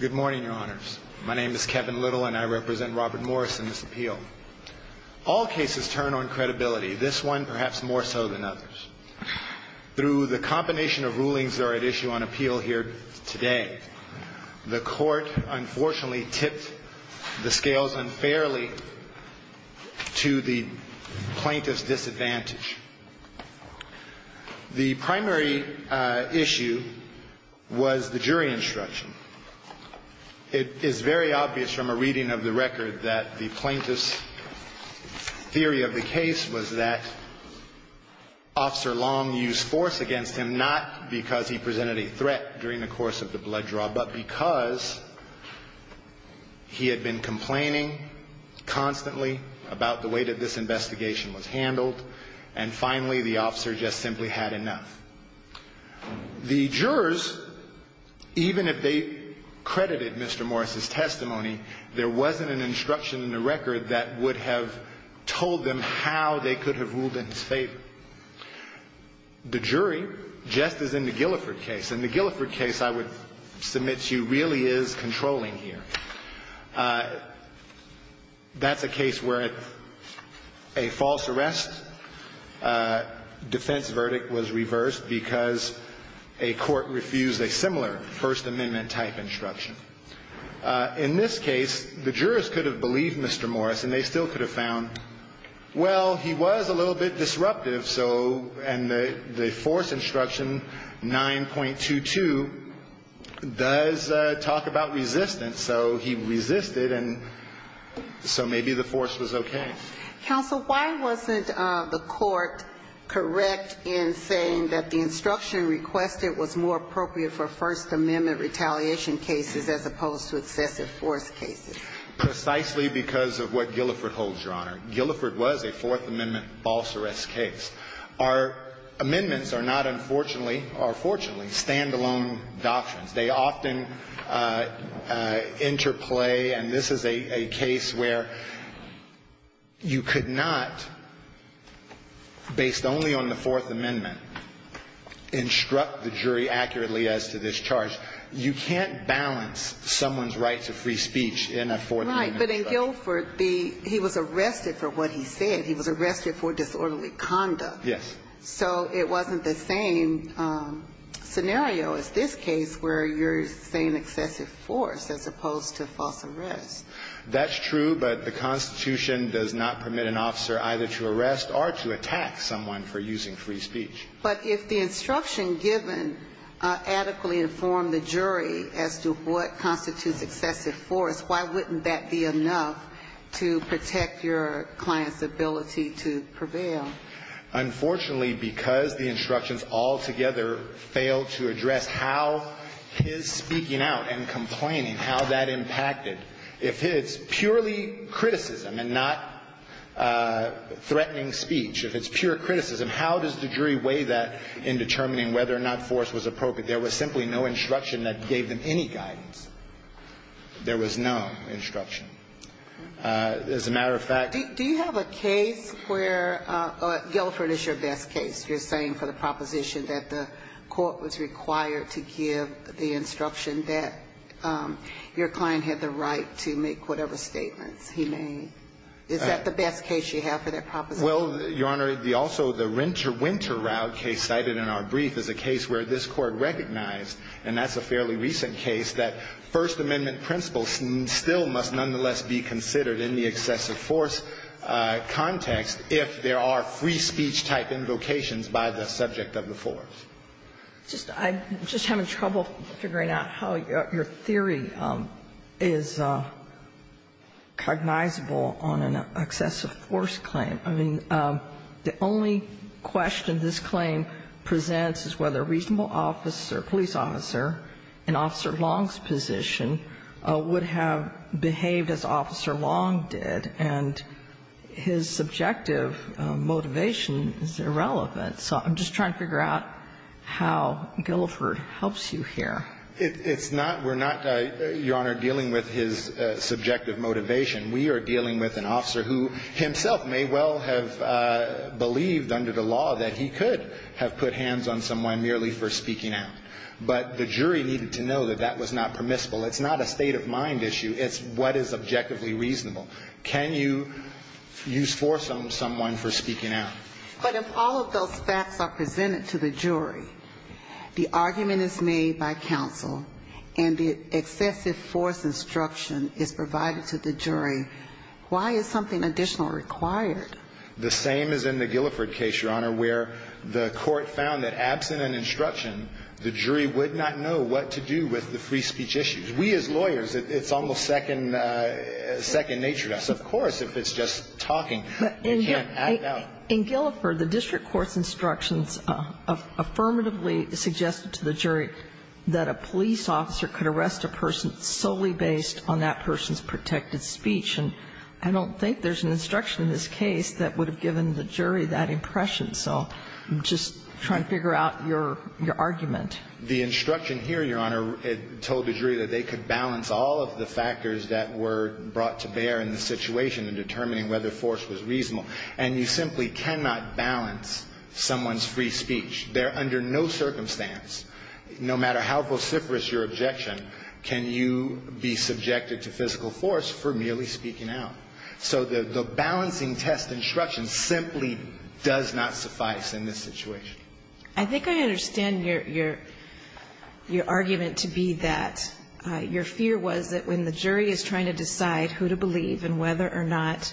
Good morning, your honors. My name is Kevin Little, and I represent Robert Morris in this appeal. All cases turn on credibility, this one perhaps more so than others. Through the combination of rulings that are at issue on appeal here today, the court unfortunately tipped the scales unfairly to the plaintiff's disadvantage. The primary issue was the jury instruction. It is very obvious from a reading of the record that the plaintiff's theory of the case was that Officer Long used force against him, not because he presented a threat during the course of the blood draw, but because he had been complaining constantly about the way that this investigation was handled, and how he had used force. And finally, the officer just simply had enough. The jurors, even if they credited Mr. Morris's testimony, there wasn't an instruction in the record that would have told them how they could have ruled in his favor. The jury, just as in the Guilford case, and the Guilford case, I would submit to you, really is controlling here. That's a case where a false arrest defense verdict was reversed because a court refused a similar First Amendment-type instruction. In this case, the jurors could have believed Mr. Morris, and they still could have found, well, he was a little bit disruptive, so, and the force instruction 9.22 does talk about resistance, so he resisted, and so maybe the force was okay. Counsel, why wasn't the court correct in saying that the instruction requested was more appropriate for First Amendment retaliation cases as opposed to excessive force cases? Precisely because of what Guilford holds, Your Honor. Guilford was a Fourth Amendment false arrest case. Our amendments are not, unfortunately, or fortunately, standalone doctrines. They often interplay, and this is a case where you could not, based only on the Fourth Amendment, instruct the jury accurately as to this charge. You can't balance someone's right to free speech in a Fourth Amendment case. But if Guilford be – he was arrested for what he said. He was arrested for disorderly conduct. Yes. So it wasn't the same scenario as this case where you're saying excessive force as opposed to false arrest. That's true, but the Constitution does not permit an officer either to arrest or to attack someone for using free speech. But if the instruction given adequately informed the jury as to what constitutes excessive force, why wouldn't that be enough to protect your client's ability to prevail? Unfortunately, because the instructions altogether failed to address how his speaking out and complaining, how that impacted. If it's purely criticism and not threatening speech, if it's pure criticism, how does the jury weigh that in determining whether or not force was appropriate? There was simply no instruction that gave them any guidance. There was no instruction. As a matter of fact – Do you have a case where – Guilford is your best case. You're saying for the proposition that the court was required to give the instruction that your client had the right to make whatever statements he made. Is that the best case you have for that proposition? Well, Your Honor, the – also the Winter – Winter route case cited in our brief is a case where this Court recognized, and that's a fairly recent case, that First Amendment principles still must nonetheless be considered in the excessive force context if there are free speech type invocations by the subject of the force. I'm just having trouble figuring out how your theory is cognizable on an excessive force claim. The only question this claim presents is whether a reasonable officer, police officer, in Officer Long's position, would have behaved as Officer Long did, and his subjective motivation is irrelevant. So I'm just trying to figure out how Guilford helps you here. It's not – we're not, Your Honor, dealing with his subjective motivation. We are dealing with an officer who himself may well have believed under the law that he could have put hands on someone merely for speaking out. But the jury needed to know that that was not permissible. It's not a state of mind issue. It's what is objectively reasonable. Can you use force on someone for speaking out? But if all of those facts are presented to the jury, the argument is made by counsel, and the excessive force instruction is provided to the jury, why is something additional required? The same as in the Guilford case, Your Honor, where the Court found that absent an instruction, the jury would not know what to do with the free speech issues. We as lawyers, it's almost second nature to us. Of course, if it's just talking, you can't act out. In Guilford, the district court's instructions affirmatively suggested to the jury that a police officer could arrest a person solely based on that person's protected speech. And I don't think there's an instruction in this case that would have given the jury that impression. So I'm just trying to figure out your argument. The instruction here, Your Honor, told the jury that they could balance all of the factors that were brought to bear in the situation in determining whether force was reasonable. And you simply cannot balance someone's free speech. They're under no circumstance, no matter how vociferous your objection, can you be subjected to physical force for merely speaking out. So the balancing test instruction simply does not suffice in this situation. I think I understand your argument to be that your fear was that when the jury is trying to decide who to believe and whether or not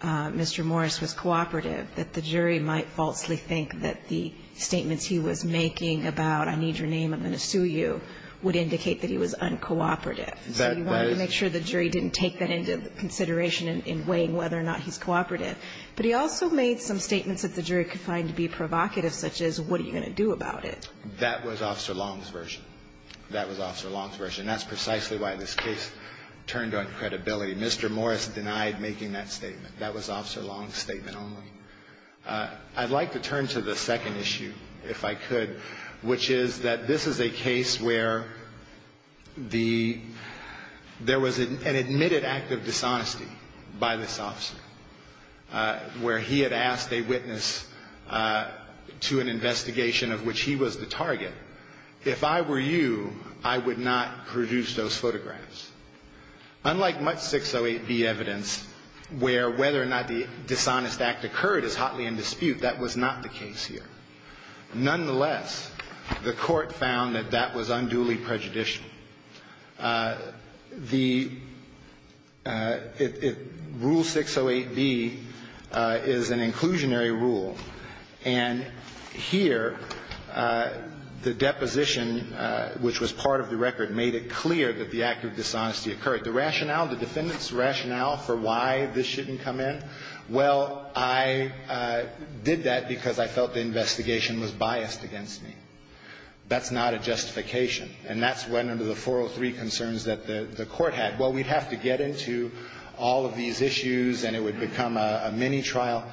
Mr. Morris was cooperative, that the jury might falsely think that the statements he was making about, I need your name, I'm going to sue you, would indicate that he was uncooperative. So you wanted to make sure the jury didn't take that into consideration in weighing whether or not he's cooperative. But he also made some statements that the jury could find to be provocative, such as what are you going to do about it. That was Officer Long's version. That was Officer Long's version. And that's precisely why this case turned on credibility. Mr. Morris denied making that statement. That was Officer Long's statement only. I'd like to turn to the second issue, if I could, which is that this is a case where there was an admitted act of dishonesty by this officer. Where he had asked a witness to an investigation of which he was the target. If I were you, I would not produce those photographs. Unlike much 608B evidence, where whether or not the dishonest act occurred is hotly in dispute, that was not the case here. Nonetheless, the court found that that was unduly prejudicial. The rule 608B is an inclusionary rule. And here, the deposition, which was part of the record, made it clear that the act of dishonesty occurred. The rationale, the defendant's rationale for why this shouldn't come in, well, I did that because I felt the investigation was biased against me. That's not a justification. And that's when, under the 403 concerns that the court had, well, we'd have to get into all of these issues, and it would become a mini-trial.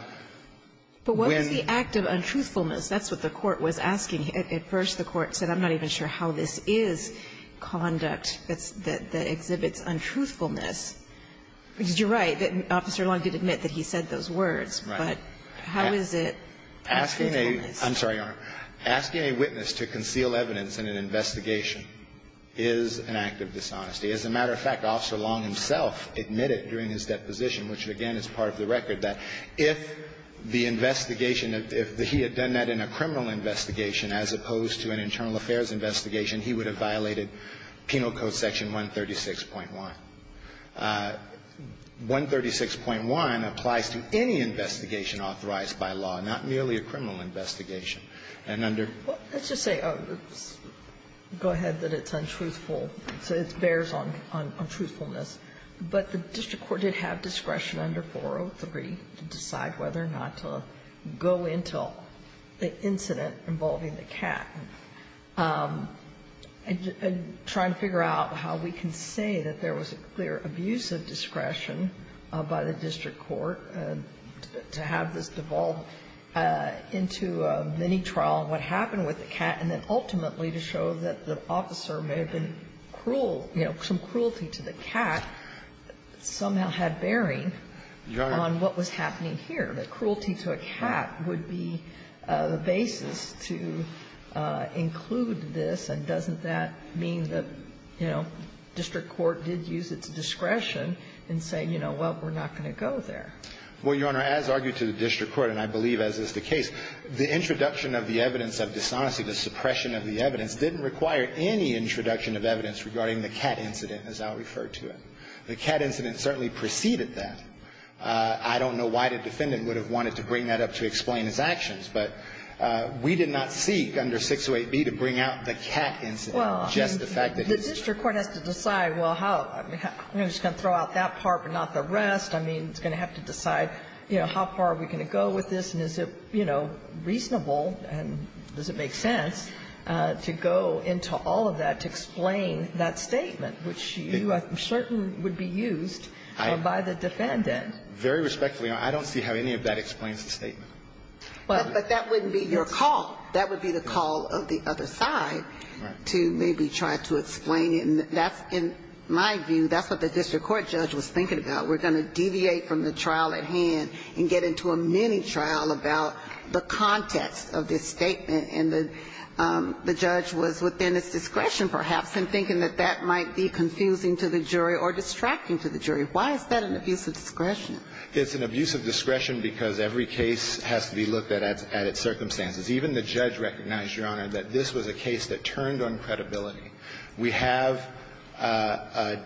But what was the act of untruthfulness? That's what the court was asking. At first, the court said, I'm not even sure how this is conduct that exhibits untruthfulness. Because you're right, that Officer Long did admit that he said those words. Right. But how is it untruthfulness? Asking a witness to conceal evidence in an investigation is an act of dishonesty. As a matter of fact, Officer Long himself admitted during his deposition, which again is part of the record, that if the investigation, if he had done that in a criminal investigation as opposed to an internal affairs investigation, he would have violated Penal Code Section 136.1. 136.1 applies to any investigation authorized by law, not merely a criminal investigation. And under ---- Well, let's just say, go ahead, that it's untruthful. So it bears on truthfulness. But the district court did have discretion under 403 to decide whether or not to go into the incident involving the cat. Trying to figure out how we can say that there was a clear abuse of discretion by the district court to have this devolved into a mini-trial, what happened with the cat, and then ultimately to show that the officer may have been cruel, you know, some cruelty to the cat somehow had bearing on what was happening here, that cruelty to a cat would be the basis to include this, and doesn't that mean that, you know, district court did use its discretion in saying, you know, well, we're not going to go there? Well, Your Honor, as argued to the district court, and I believe as is the case, the introduction of the evidence of dishonesty, the suppression of the evidence, didn't require any introduction of evidence regarding the cat incident, as I'll refer to it. The cat incident certainly preceded that. I don't know why the defendant would have wanted to bring that up to explain its actions, but we did not seek under 608B to bring out the cat incident, just the fact that it's there. Well, the district court has to decide, well, I'm just going to throw out that part, but not the rest. I mean, it's going to have to decide, you know, how far are we going to go with this, and is it, you know, reasonable, and does it make sense, to go into all of that to explain that statement, which certainly would be used by the defendant. Very respectfully, Your Honor, I don't see how any of that explains the statement. But that wouldn't be your call. That would be the call of the other side to maybe try to explain it, and that's in my view, that's what the district court judge was thinking about. We're going to deviate from the trial at hand and get into a mini trial about the context of this statement, and the judge was within its discretion, perhaps, in thinking that that might be confusing to the jury or distracting to the jury. Why is that an abuse of discretion? It's an abuse of discretion because every case has to be looked at at its circumstances. Even the judge recognized, Your Honor, that this was a case that turned on credibility. We have a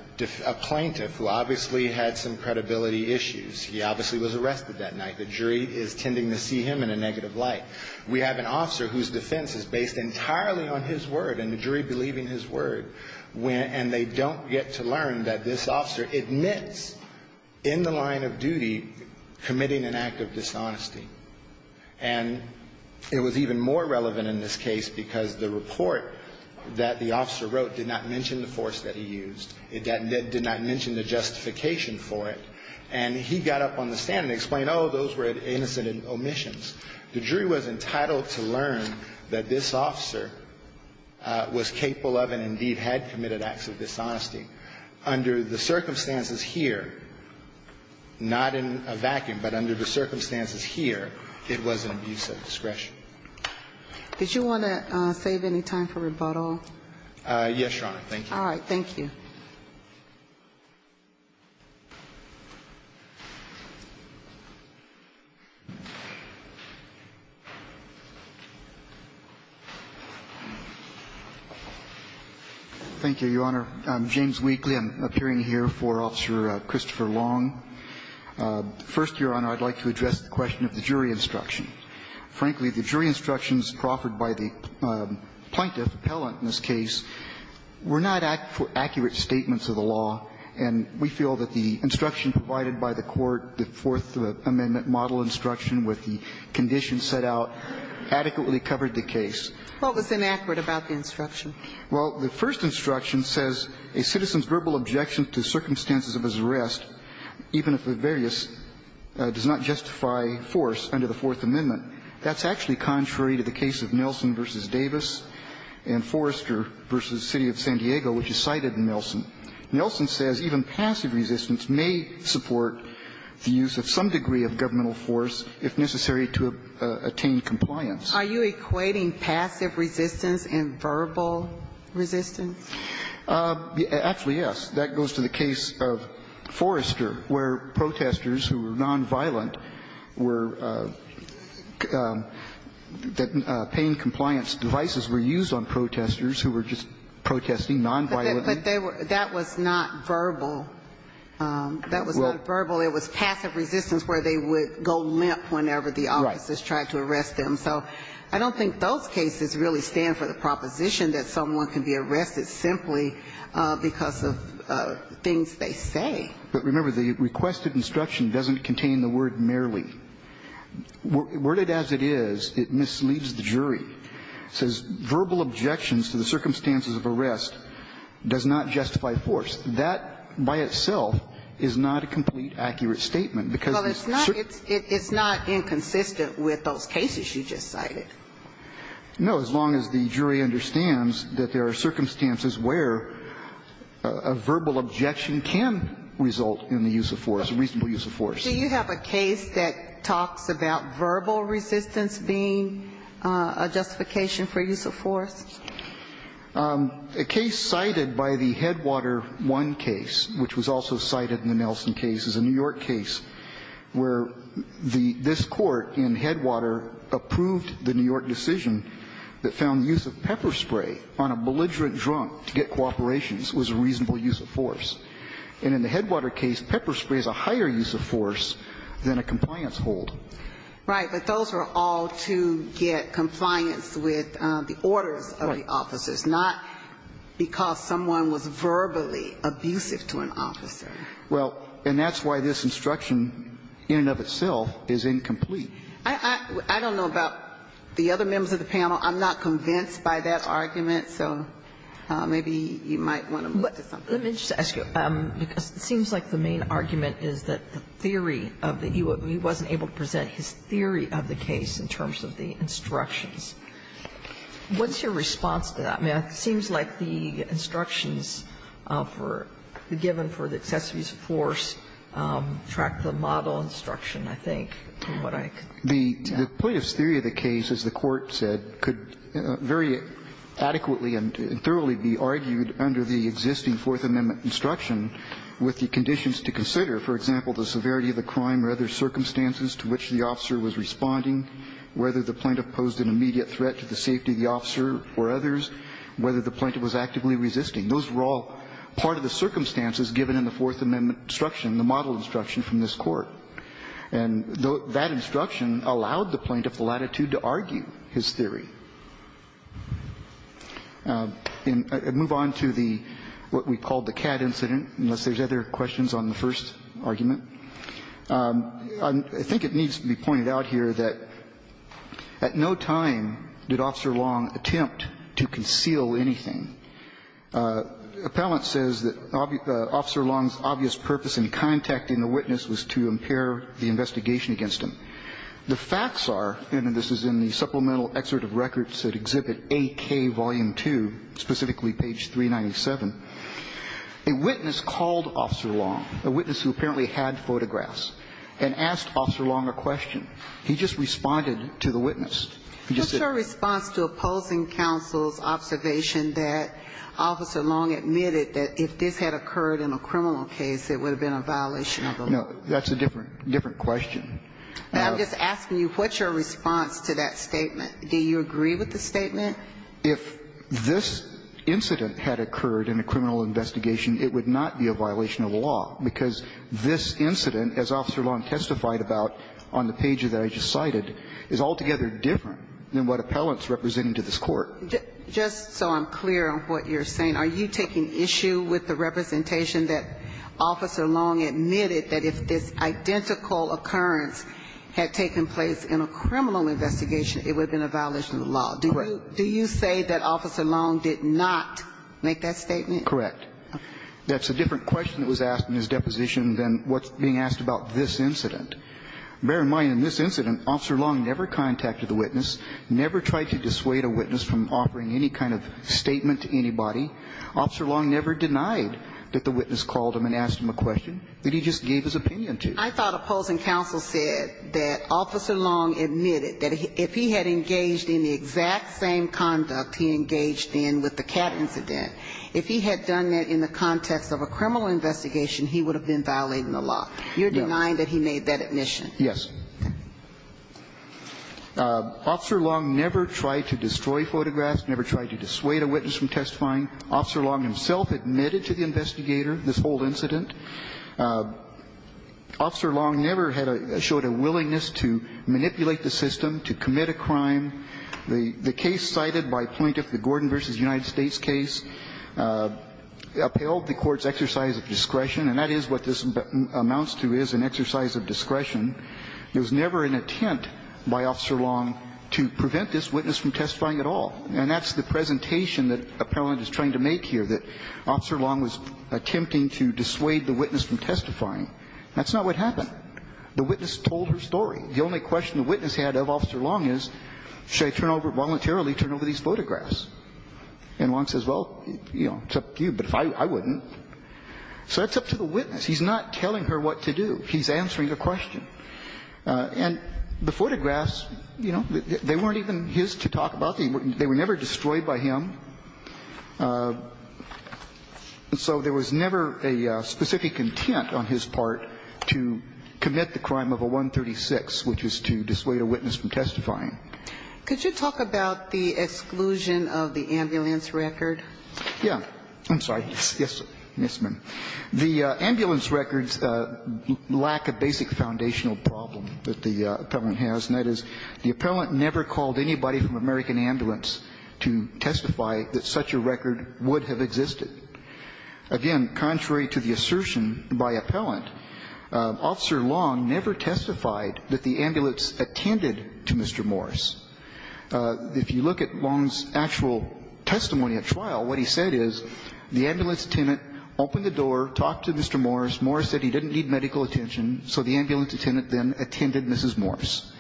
plaintiff who obviously had some credibility issues. He obviously was arrested that night. The jury is tending to see him in a negative light. We have an officer whose defense is based entirely on his word and the jury believing his word, and they don't get to learn that this officer admits in the line of duty committing an act of dishonesty. And it was even more relevant in this case because the report that the officer wrote did not mention the force that he used. It did not mention the justification for it. And he got up on the stand and explained, oh, those were innocent omissions. The jury was entitled to learn that this officer was capable of and indeed had committed acts of dishonesty. Under the circumstances here, not in a vacuum, but under the circumstances here, it was an abuse of discretion. Did you want to save any time for rebuttal? Yes, Your Honor. Thank you. Thank you. Thank you. Thank you, Your Honor. I'm James Wheatley. I'm appearing here for Officer Christopher Long. First, Your Honor, I'd like to address the question of the jury instruction. Frankly, the jury instructions proffered by the plaintiff, appellant in this case, were not accurate statements of the law. And we feel that the instruction provided by the Court, the Fourth Amendment model instruction with the conditions set out, adequately covered the case. What was inaccurate about the instruction? Well, the first instruction says a citizen's verbal objection to circumstances of his arrest, even if the various does not justify force under the Fourth Amendment, that's actually contrary to the case of Nelson v. Davis and Forrester v. City of San Diego, which is cited in Nelson. Nelson says even passive resistance may support the use of some degree of governmental force if necessary to attain compliance. Are you equating passive resistance and verbal resistance? Actually, yes. That goes to the case of Forrester, where protestors who were nonviolent were that pain compliance devices were used on protestors who were just protesting nonviolently. But that was not verbal. That was not verbal. It was passive resistance where they would go limp whenever the officers tried to arrest them. So I don't think those cases really stand for the proposition that someone can be But remember, the requested instruction doesn't contain the word merely. Worded as it is, it misleads the jury. It says verbal objections to the circumstances of arrest does not justify force. That by itself is not a complete accurate statement, because it's certain. Well, it's not inconsistent with those cases you just cited. No, as long as the jury understands that there are circumstances where a verbal objection can result in the use of force, reasonable use of force. Do you have a case that talks about verbal resistance being a justification for use of force? A case cited by the Headwater One case, which was also cited in the Nelson case, is a New York case where this court in Headwater approved the New York decision that found the use of pepper spray on a belligerent drunk to get cooperation was a reasonable use of force. And in the Headwater case, pepper spray is a higher use of force than a compliance hold. Right. But those were all to get compliance with the orders of the officers, not because someone was verbally abusive to an officer. Well, and that's why this instruction, in and of itself, is incomplete. I don't know about the other members of the panel. I'm not convinced by that argument. So maybe you might want to move to something. Let me just ask you, because it seems like the main argument is that the theory of the UOB wasn't able to present his theory of the case in terms of the instructions. What's your response to that? It seems like the instructions for the given for the excessive use of force track the model instruction, I think, from what I can tell. The plaintiff's theory of the case, as the Court said, could very adequately and thoroughly be argued under the existing Fourth Amendment instruction with the conditions to consider, for example, the severity of the crime or other circumstances to which the officer was responding, whether the plaintiff posed an immediate threat to the safety of the officer or others, whether the plaintiff was actively resisting. Those were all part of the circumstances given in the Fourth Amendment instruction, the model instruction from this Court. And that instruction allowed the plaintiff the latitude to argue his theory. And move on to the what we called the CAD incident, unless there's other questions on the first argument. I think it needs to be pointed out here that at no time did Officer Long attempt to conceal anything. Appellant says that Officer Long's obvious purpose in contacting the witness was to impair the investigation against him. The facts are, and this is in the supplemental excerpt of records that exhibit AK Volume 2, specifically page 397, a witness called Officer Long, a witness who apparently had photographs, and asked Officer Long a question. He just responded to the witness. He just said ---- What's your response to opposing counsel's observation that Officer Long admitted that if this had occurred in a criminal case, it would have been a violation of the law? No. That's a different question. I'm just asking you, what's your response to that statement? Do you agree with the statement? If this incident had occurred in a criminal investigation, it would not be a violation of the law, because this incident, as Officer Long testified about on the pages that I just cited, is altogether different than what appellants representing to this Court. Just so I'm clear on what you're saying, are you taking issue with the representation that Officer Long admitted that if this identical occurrence had taken place in a criminal investigation, it would have been a violation of the law? Correct. Do you say that Officer Long did not make that statement? Correct. That's a different question that was asked in his deposition than what's being asked about this incident. Bear in mind, in this incident, Officer Long never contacted the witness, never tried to dissuade a witness from offering any kind of statement to anybody. Officer Long never denied that the witness called him and asked him a question that he just gave his opinion to. I thought opposing counsel said that Officer Long admitted that if he had engaged in the exact same conduct he engaged in with the cat incident, if he had done that in the context of a criminal investigation, he would have been violating the law. You're denying that he made that admission? Yes. Officer Long never tried to destroy photographs, never tried to dissuade a witness from testifying. Officer Long himself admitted to the investigator this whole incident. Officer Long never showed a willingness to manipulate the system, to commit a crime. The case cited by Plaintiff, the Gordon v. United States case, upheld the Court's exercise of discretion, and that is what this amounts to, is an exercise of discretion. There was never an attempt by Officer Long to prevent this witness from testifying at all. And that's the presentation that Appellant is trying to make here, that Officer Long was attempting to dissuade the witness from testifying. That's not what happened. The witness told her story. The only question the witness had of Officer Long is, should I turn over, voluntarily turn over these photographs? And Long says, well, you know, it's up to you. But I wouldn't. So that's up to the witness. He's not telling her what to do. He's answering a question. And the photographs, you know, they weren't even his to talk about. They were never destroyed by him. And so there was never a specific intent on his part to commit the crime of a 136. It's about the discretion of the witness, which is to dissuade a witness from testifying. Could you talk about the exclusion of the ambulance record? Yeah. I'm sorry. Yes, ma'am. The ambulance records lack a basic foundational problem that the Appellant has, and that is the Appellant never called anybody from American Ambulance to testify that such a record would have existed. Again, contrary to the assertion by Appellant, Officer Long never testified that the ambulance attended to Mr. Morris. If you look at Long's actual testimony at trial, what he said is the ambulance attendant opened the door, talked to Mr. Morris, Morris said he didn't need medical attention, so the ambulance attendant then attended Mrs. Morris.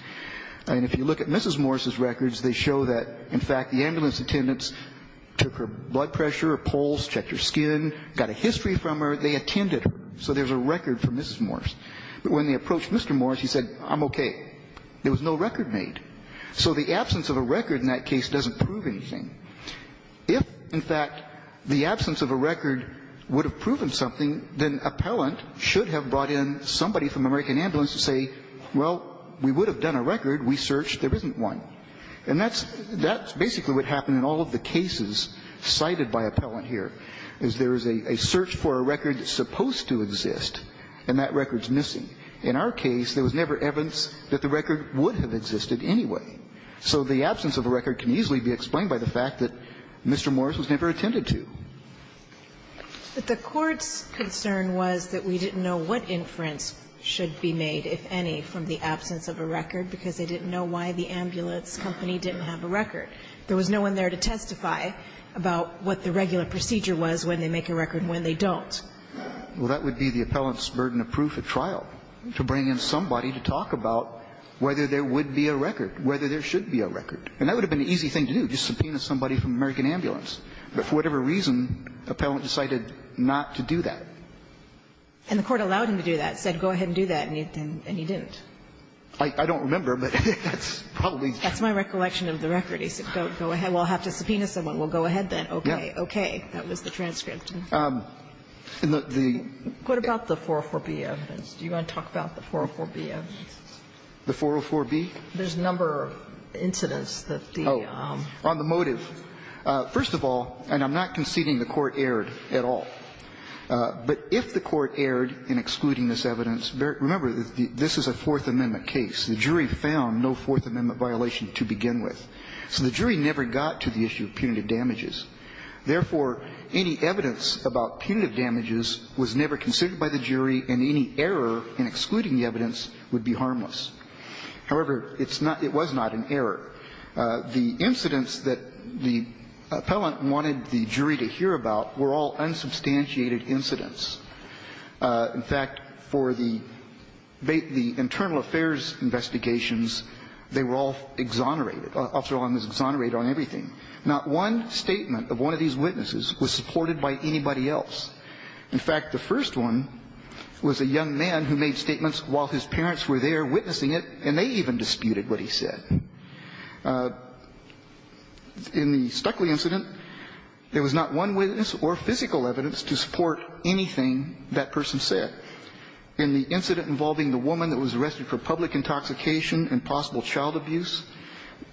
And if you look at Mrs. Morris's records, they show that, in fact, the ambulance took her blood pressure, her pulse, checked her skin, got a history from her. They attended her. So there's a record from Mrs. Morris. But when they approached Mr. Morris, he said, I'm okay. There was no record made. So the absence of a record in that case doesn't prove anything. If, in fact, the absence of a record would have proven something, then Appellant should have brought in somebody from American Ambulance to say, well, we would have done a record. We searched. There isn't one. And that's basically what happened in all of the cases cited by Appellant here, is there is a search for a record that's supposed to exist, and that record is missing. In our case, there was never evidence that the record would have existed anyway. So the absence of a record can easily be explained by the fact that Mr. Morris was never attended to. But the Court's concern was that we didn't know what inference should be made, if any, from the absence of a record, because they didn't know why the ambulance company didn't have a record. There was no one there to testify about what the regular procedure was when they make a record and when they don't. Well, that would be the Appellant's burden of proof at trial, to bring in somebody to talk about whether there would be a record, whether there should be a record. And that would have been an easy thing to do, just subpoena somebody from American Ambulance. But for whatever reason, Appellant decided not to do that. And the Court allowed him to do that, said, go ahead and do that, and he didn't. I don't remember, but that's probably. That's my recollection of the record. He said, go ahead. We'll have to subpoena someone. We'll go ahead then. Okay. Okay. That was the transcript. And the. What about the 404b evidence? Do you want to talk about the 404b evidence? The 404b? There's a number of incidents that the. Oh. On the motive. First of all, and I'm not conceding the Court erred at all. But if the Court erred in excluding this evidence, remember, this is a Fourth Amendment case. The jury found no Fourth Amendment violation to begin with. So the jury never got to the issue of punitive damages. Therefore, any evidence about punitive damages was never considered by the jury, and any error in excluding the evidence would be harmless. However, it's not, it was not an error. The incidents that the Appellant wanted the jury to hear about were all unsubstantiated incidents. In fact, for the internal affairs investigations, they were all exonerated. Officer O'Hanlon was exonerated on everything. Not one statement of one of these witnesses was supported by anybody else. In fact, the first one was a young man who made statements while his parents were there witnessing it, and they even disputed what he said. In the Stuckley incident, there was not one witness or physical evidence to support anything that person said. In the incident involving the woman that was arrested for public intoxication and possible child abuse,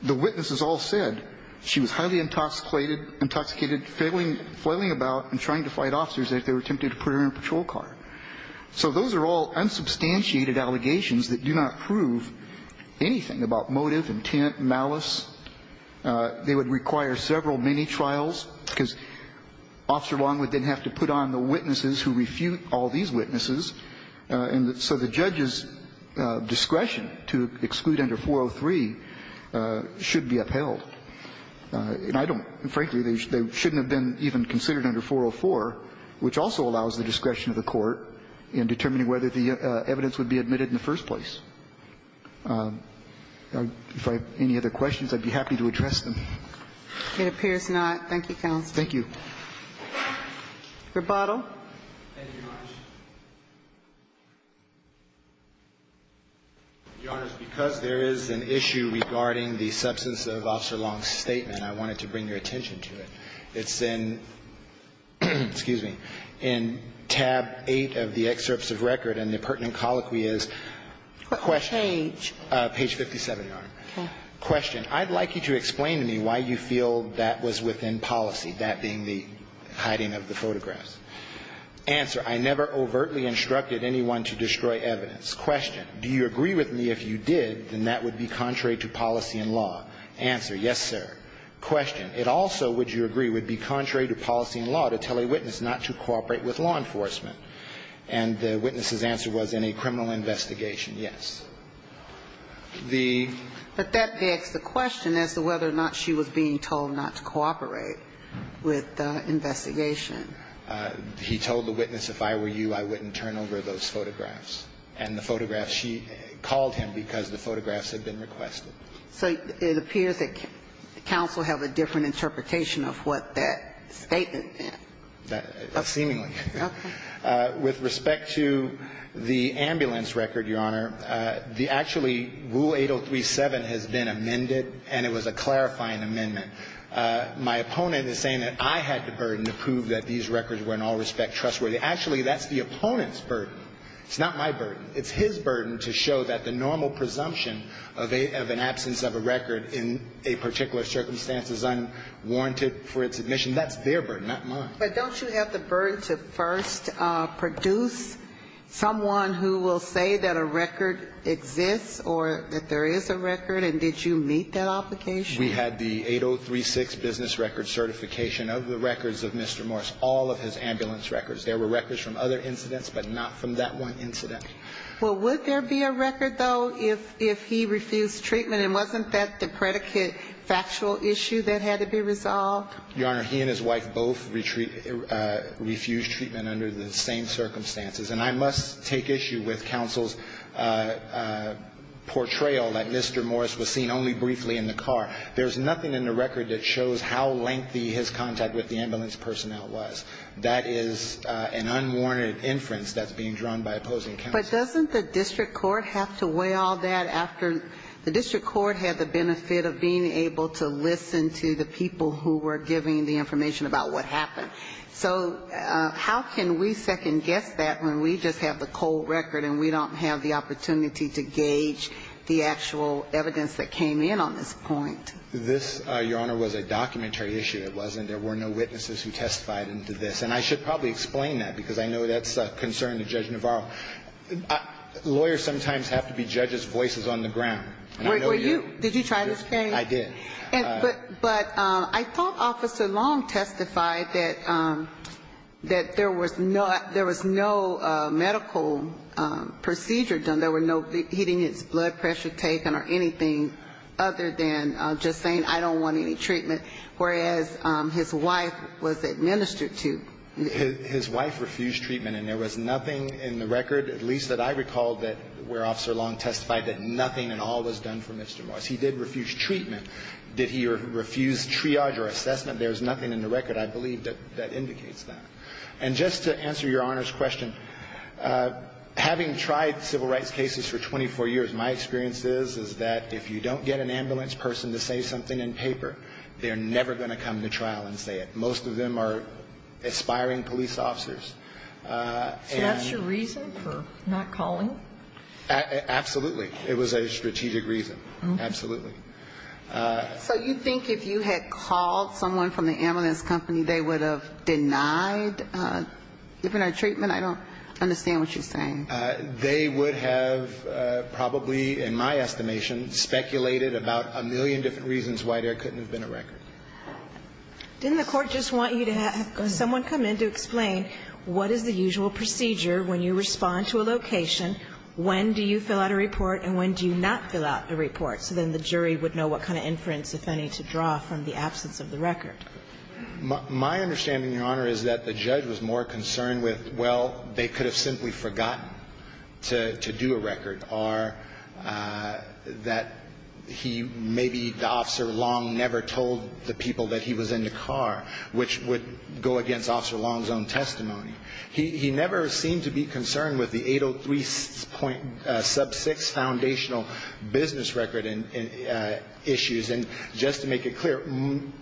the witnesses all said she was highly intoxicated, flailing about and trying to fight officers as they were tempted to put her in a patrol car. So those are all unsubstantiated allegations that do not prove anything about motive, intent, malice. They would require several mini-trials because Officer Longwood didn't have to put on the witnesses who refute all these witnesses. And so the judge's discretion to exclude under 403 should be upheld. And I don't – frankly, they shouldn't have been even considered under 404, which also allows the discretion of the Court in determining whether the evidence would be admitted in the first place. If I have any other questions, I'd be happy to address them. It appears not. Thank you, Counsel. Thank you. Rebuttal. Thank you, Your Honor. Your Honor, because there is an issue regarding the substance of Officer Long's statement, I wanted to bring your attention to it. It's in – excuse me – in tab 8 of the excerpts of record, and the pertinent colloquy is – Page. Page 57, Your Honor. Okay. Question. I'd like you to explain to me why you feel that was within policy, that being the hiding of the photographs. Answer. I never overtly instructed anyone to destroy evidence. Question. Do you agree with me if you did, then that would be contrary to policy and law? Answer. Yes, sir. Question. It also, would you agree, would be contrary to policy and law to tell a witness not to cooperate with law enforcement? And the witness's answer was in a criminal investigation. Yes. The – But that begs the question as to whether or not she was being told not to cooperate with the investigation. He told the witness, if I were you, I wouldn't turn over those photographs. And the photographs, she called him because the photographs had been requested. So it appears that counsel have a different interpretation of what that statement Seemingly. Okay. With respect to the ambulance record, Your Honor, the actually rule 8037 has been amended, and it was a clarifying amendment. My opponent is saying that I had the burden to prove that these records were in all respect trustworthy. Actually, that's the opponent's burden. It's not my burden. It's his burden to show that the normal presumption of an absence of a record in a particular circumstance is unwarranted for its admission. That's their burden, not mine. But don't you have the burden to first produce someone who will say that a record exists or that there is a record, and did you meet that obligation? We had the 8036 business record certification of the records of Mr. Morris, all of his ambulance records. There were records from other incidents, but not from that one incident. Well, would there be a record, though, if he refused treatment? And wasn't that the predicate factual issue that had to be resolved? Your Honor, he and his wife both refused treatment under the same circumstances. And I must take issue with counsel's portrayal that Mr. Morris was seen only briefly in the car. There's nothing in the record that shows how lengthy his contact with the ambulance personnel was. That is an unwarranted inference that's being drawn by opposing counsel. But doesn't the district court have to weigh all that after the district court had the benefit of being able to listen to the people who were giving the information about what happened? So how can we second-guess that when we just have the cold record and we don't have the opportunity to gauge the actual evidence that came in on this point? This, Your Honor, was a documentary issue. It wasn't. There were no witnesses who testified into this. And I should probably explain that, because I know that's a concern to Judge Navarro. Lawyers sometimes have to be judges' voices on the ground. Were you? Did you try this case? I did. But I thought Officer Long testified that there was no medical procedure done. There were no beatings, blood pressure taken, or anything other than just saying I don't want any treatment, whereas his wife was administered to. His wife refused treatment. And there was nothing in the record, at least that I recall, where Officer Long testified that nothing at all was done for Mr. Morris. He did refuse treatment. Did he refuse triage or assessment? There's nothing in the record, I believe, that indicates that. And just to answer Your Honor's question, having tried civil rights cases for 24 years, my experience is, is that if you don't get an ambulance person to say something in paper, they're never going to come to trial and say it. Most of them are aspiring police officers. So that's your reason for not calling? Absolutely. It was a strategic reason. Absolutely. So you think if you had called someone from the ambulance company, they would have denied different treatment? I don't understand what you're saying. They would have probably, in my estimation, speculated about a million different reasons why there couldn't have been a record. Didn't the court just want you to have someone come in to explain what is the usual procedure when you respond to a location? When do you fill out a report and when do you not fill out a report? So then the jury would know what kind of inference, if any, to draw from the absence of the record. My understanding, Your Honor, is that the judge was more concerned with, well, they could have simply forgotten to do a record, or that he maybe, Officer Long never told the people that he was in the car, which would go against Officer Long's own testimony. He never seemed to be concerned with the 803.6 foundational business record issues. And just to make it clear,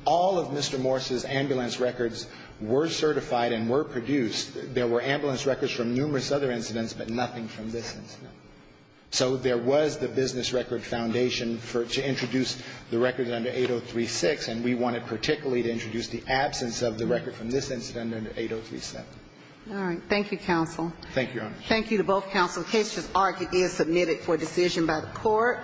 all of Mr. Morris' ambulance records were certified and were produced. There were ambulance records from numerous other incidents, but nothing from this incident. So there was the business record foundation to introduce the records under 803.6, and we wanted particularly to introduce the absence of the record from this incident under 803.7. All right. Thank you, counsel. Thank you, Your Honor. Thank you to both counsel. The case is argued and submitted for decision by the Court.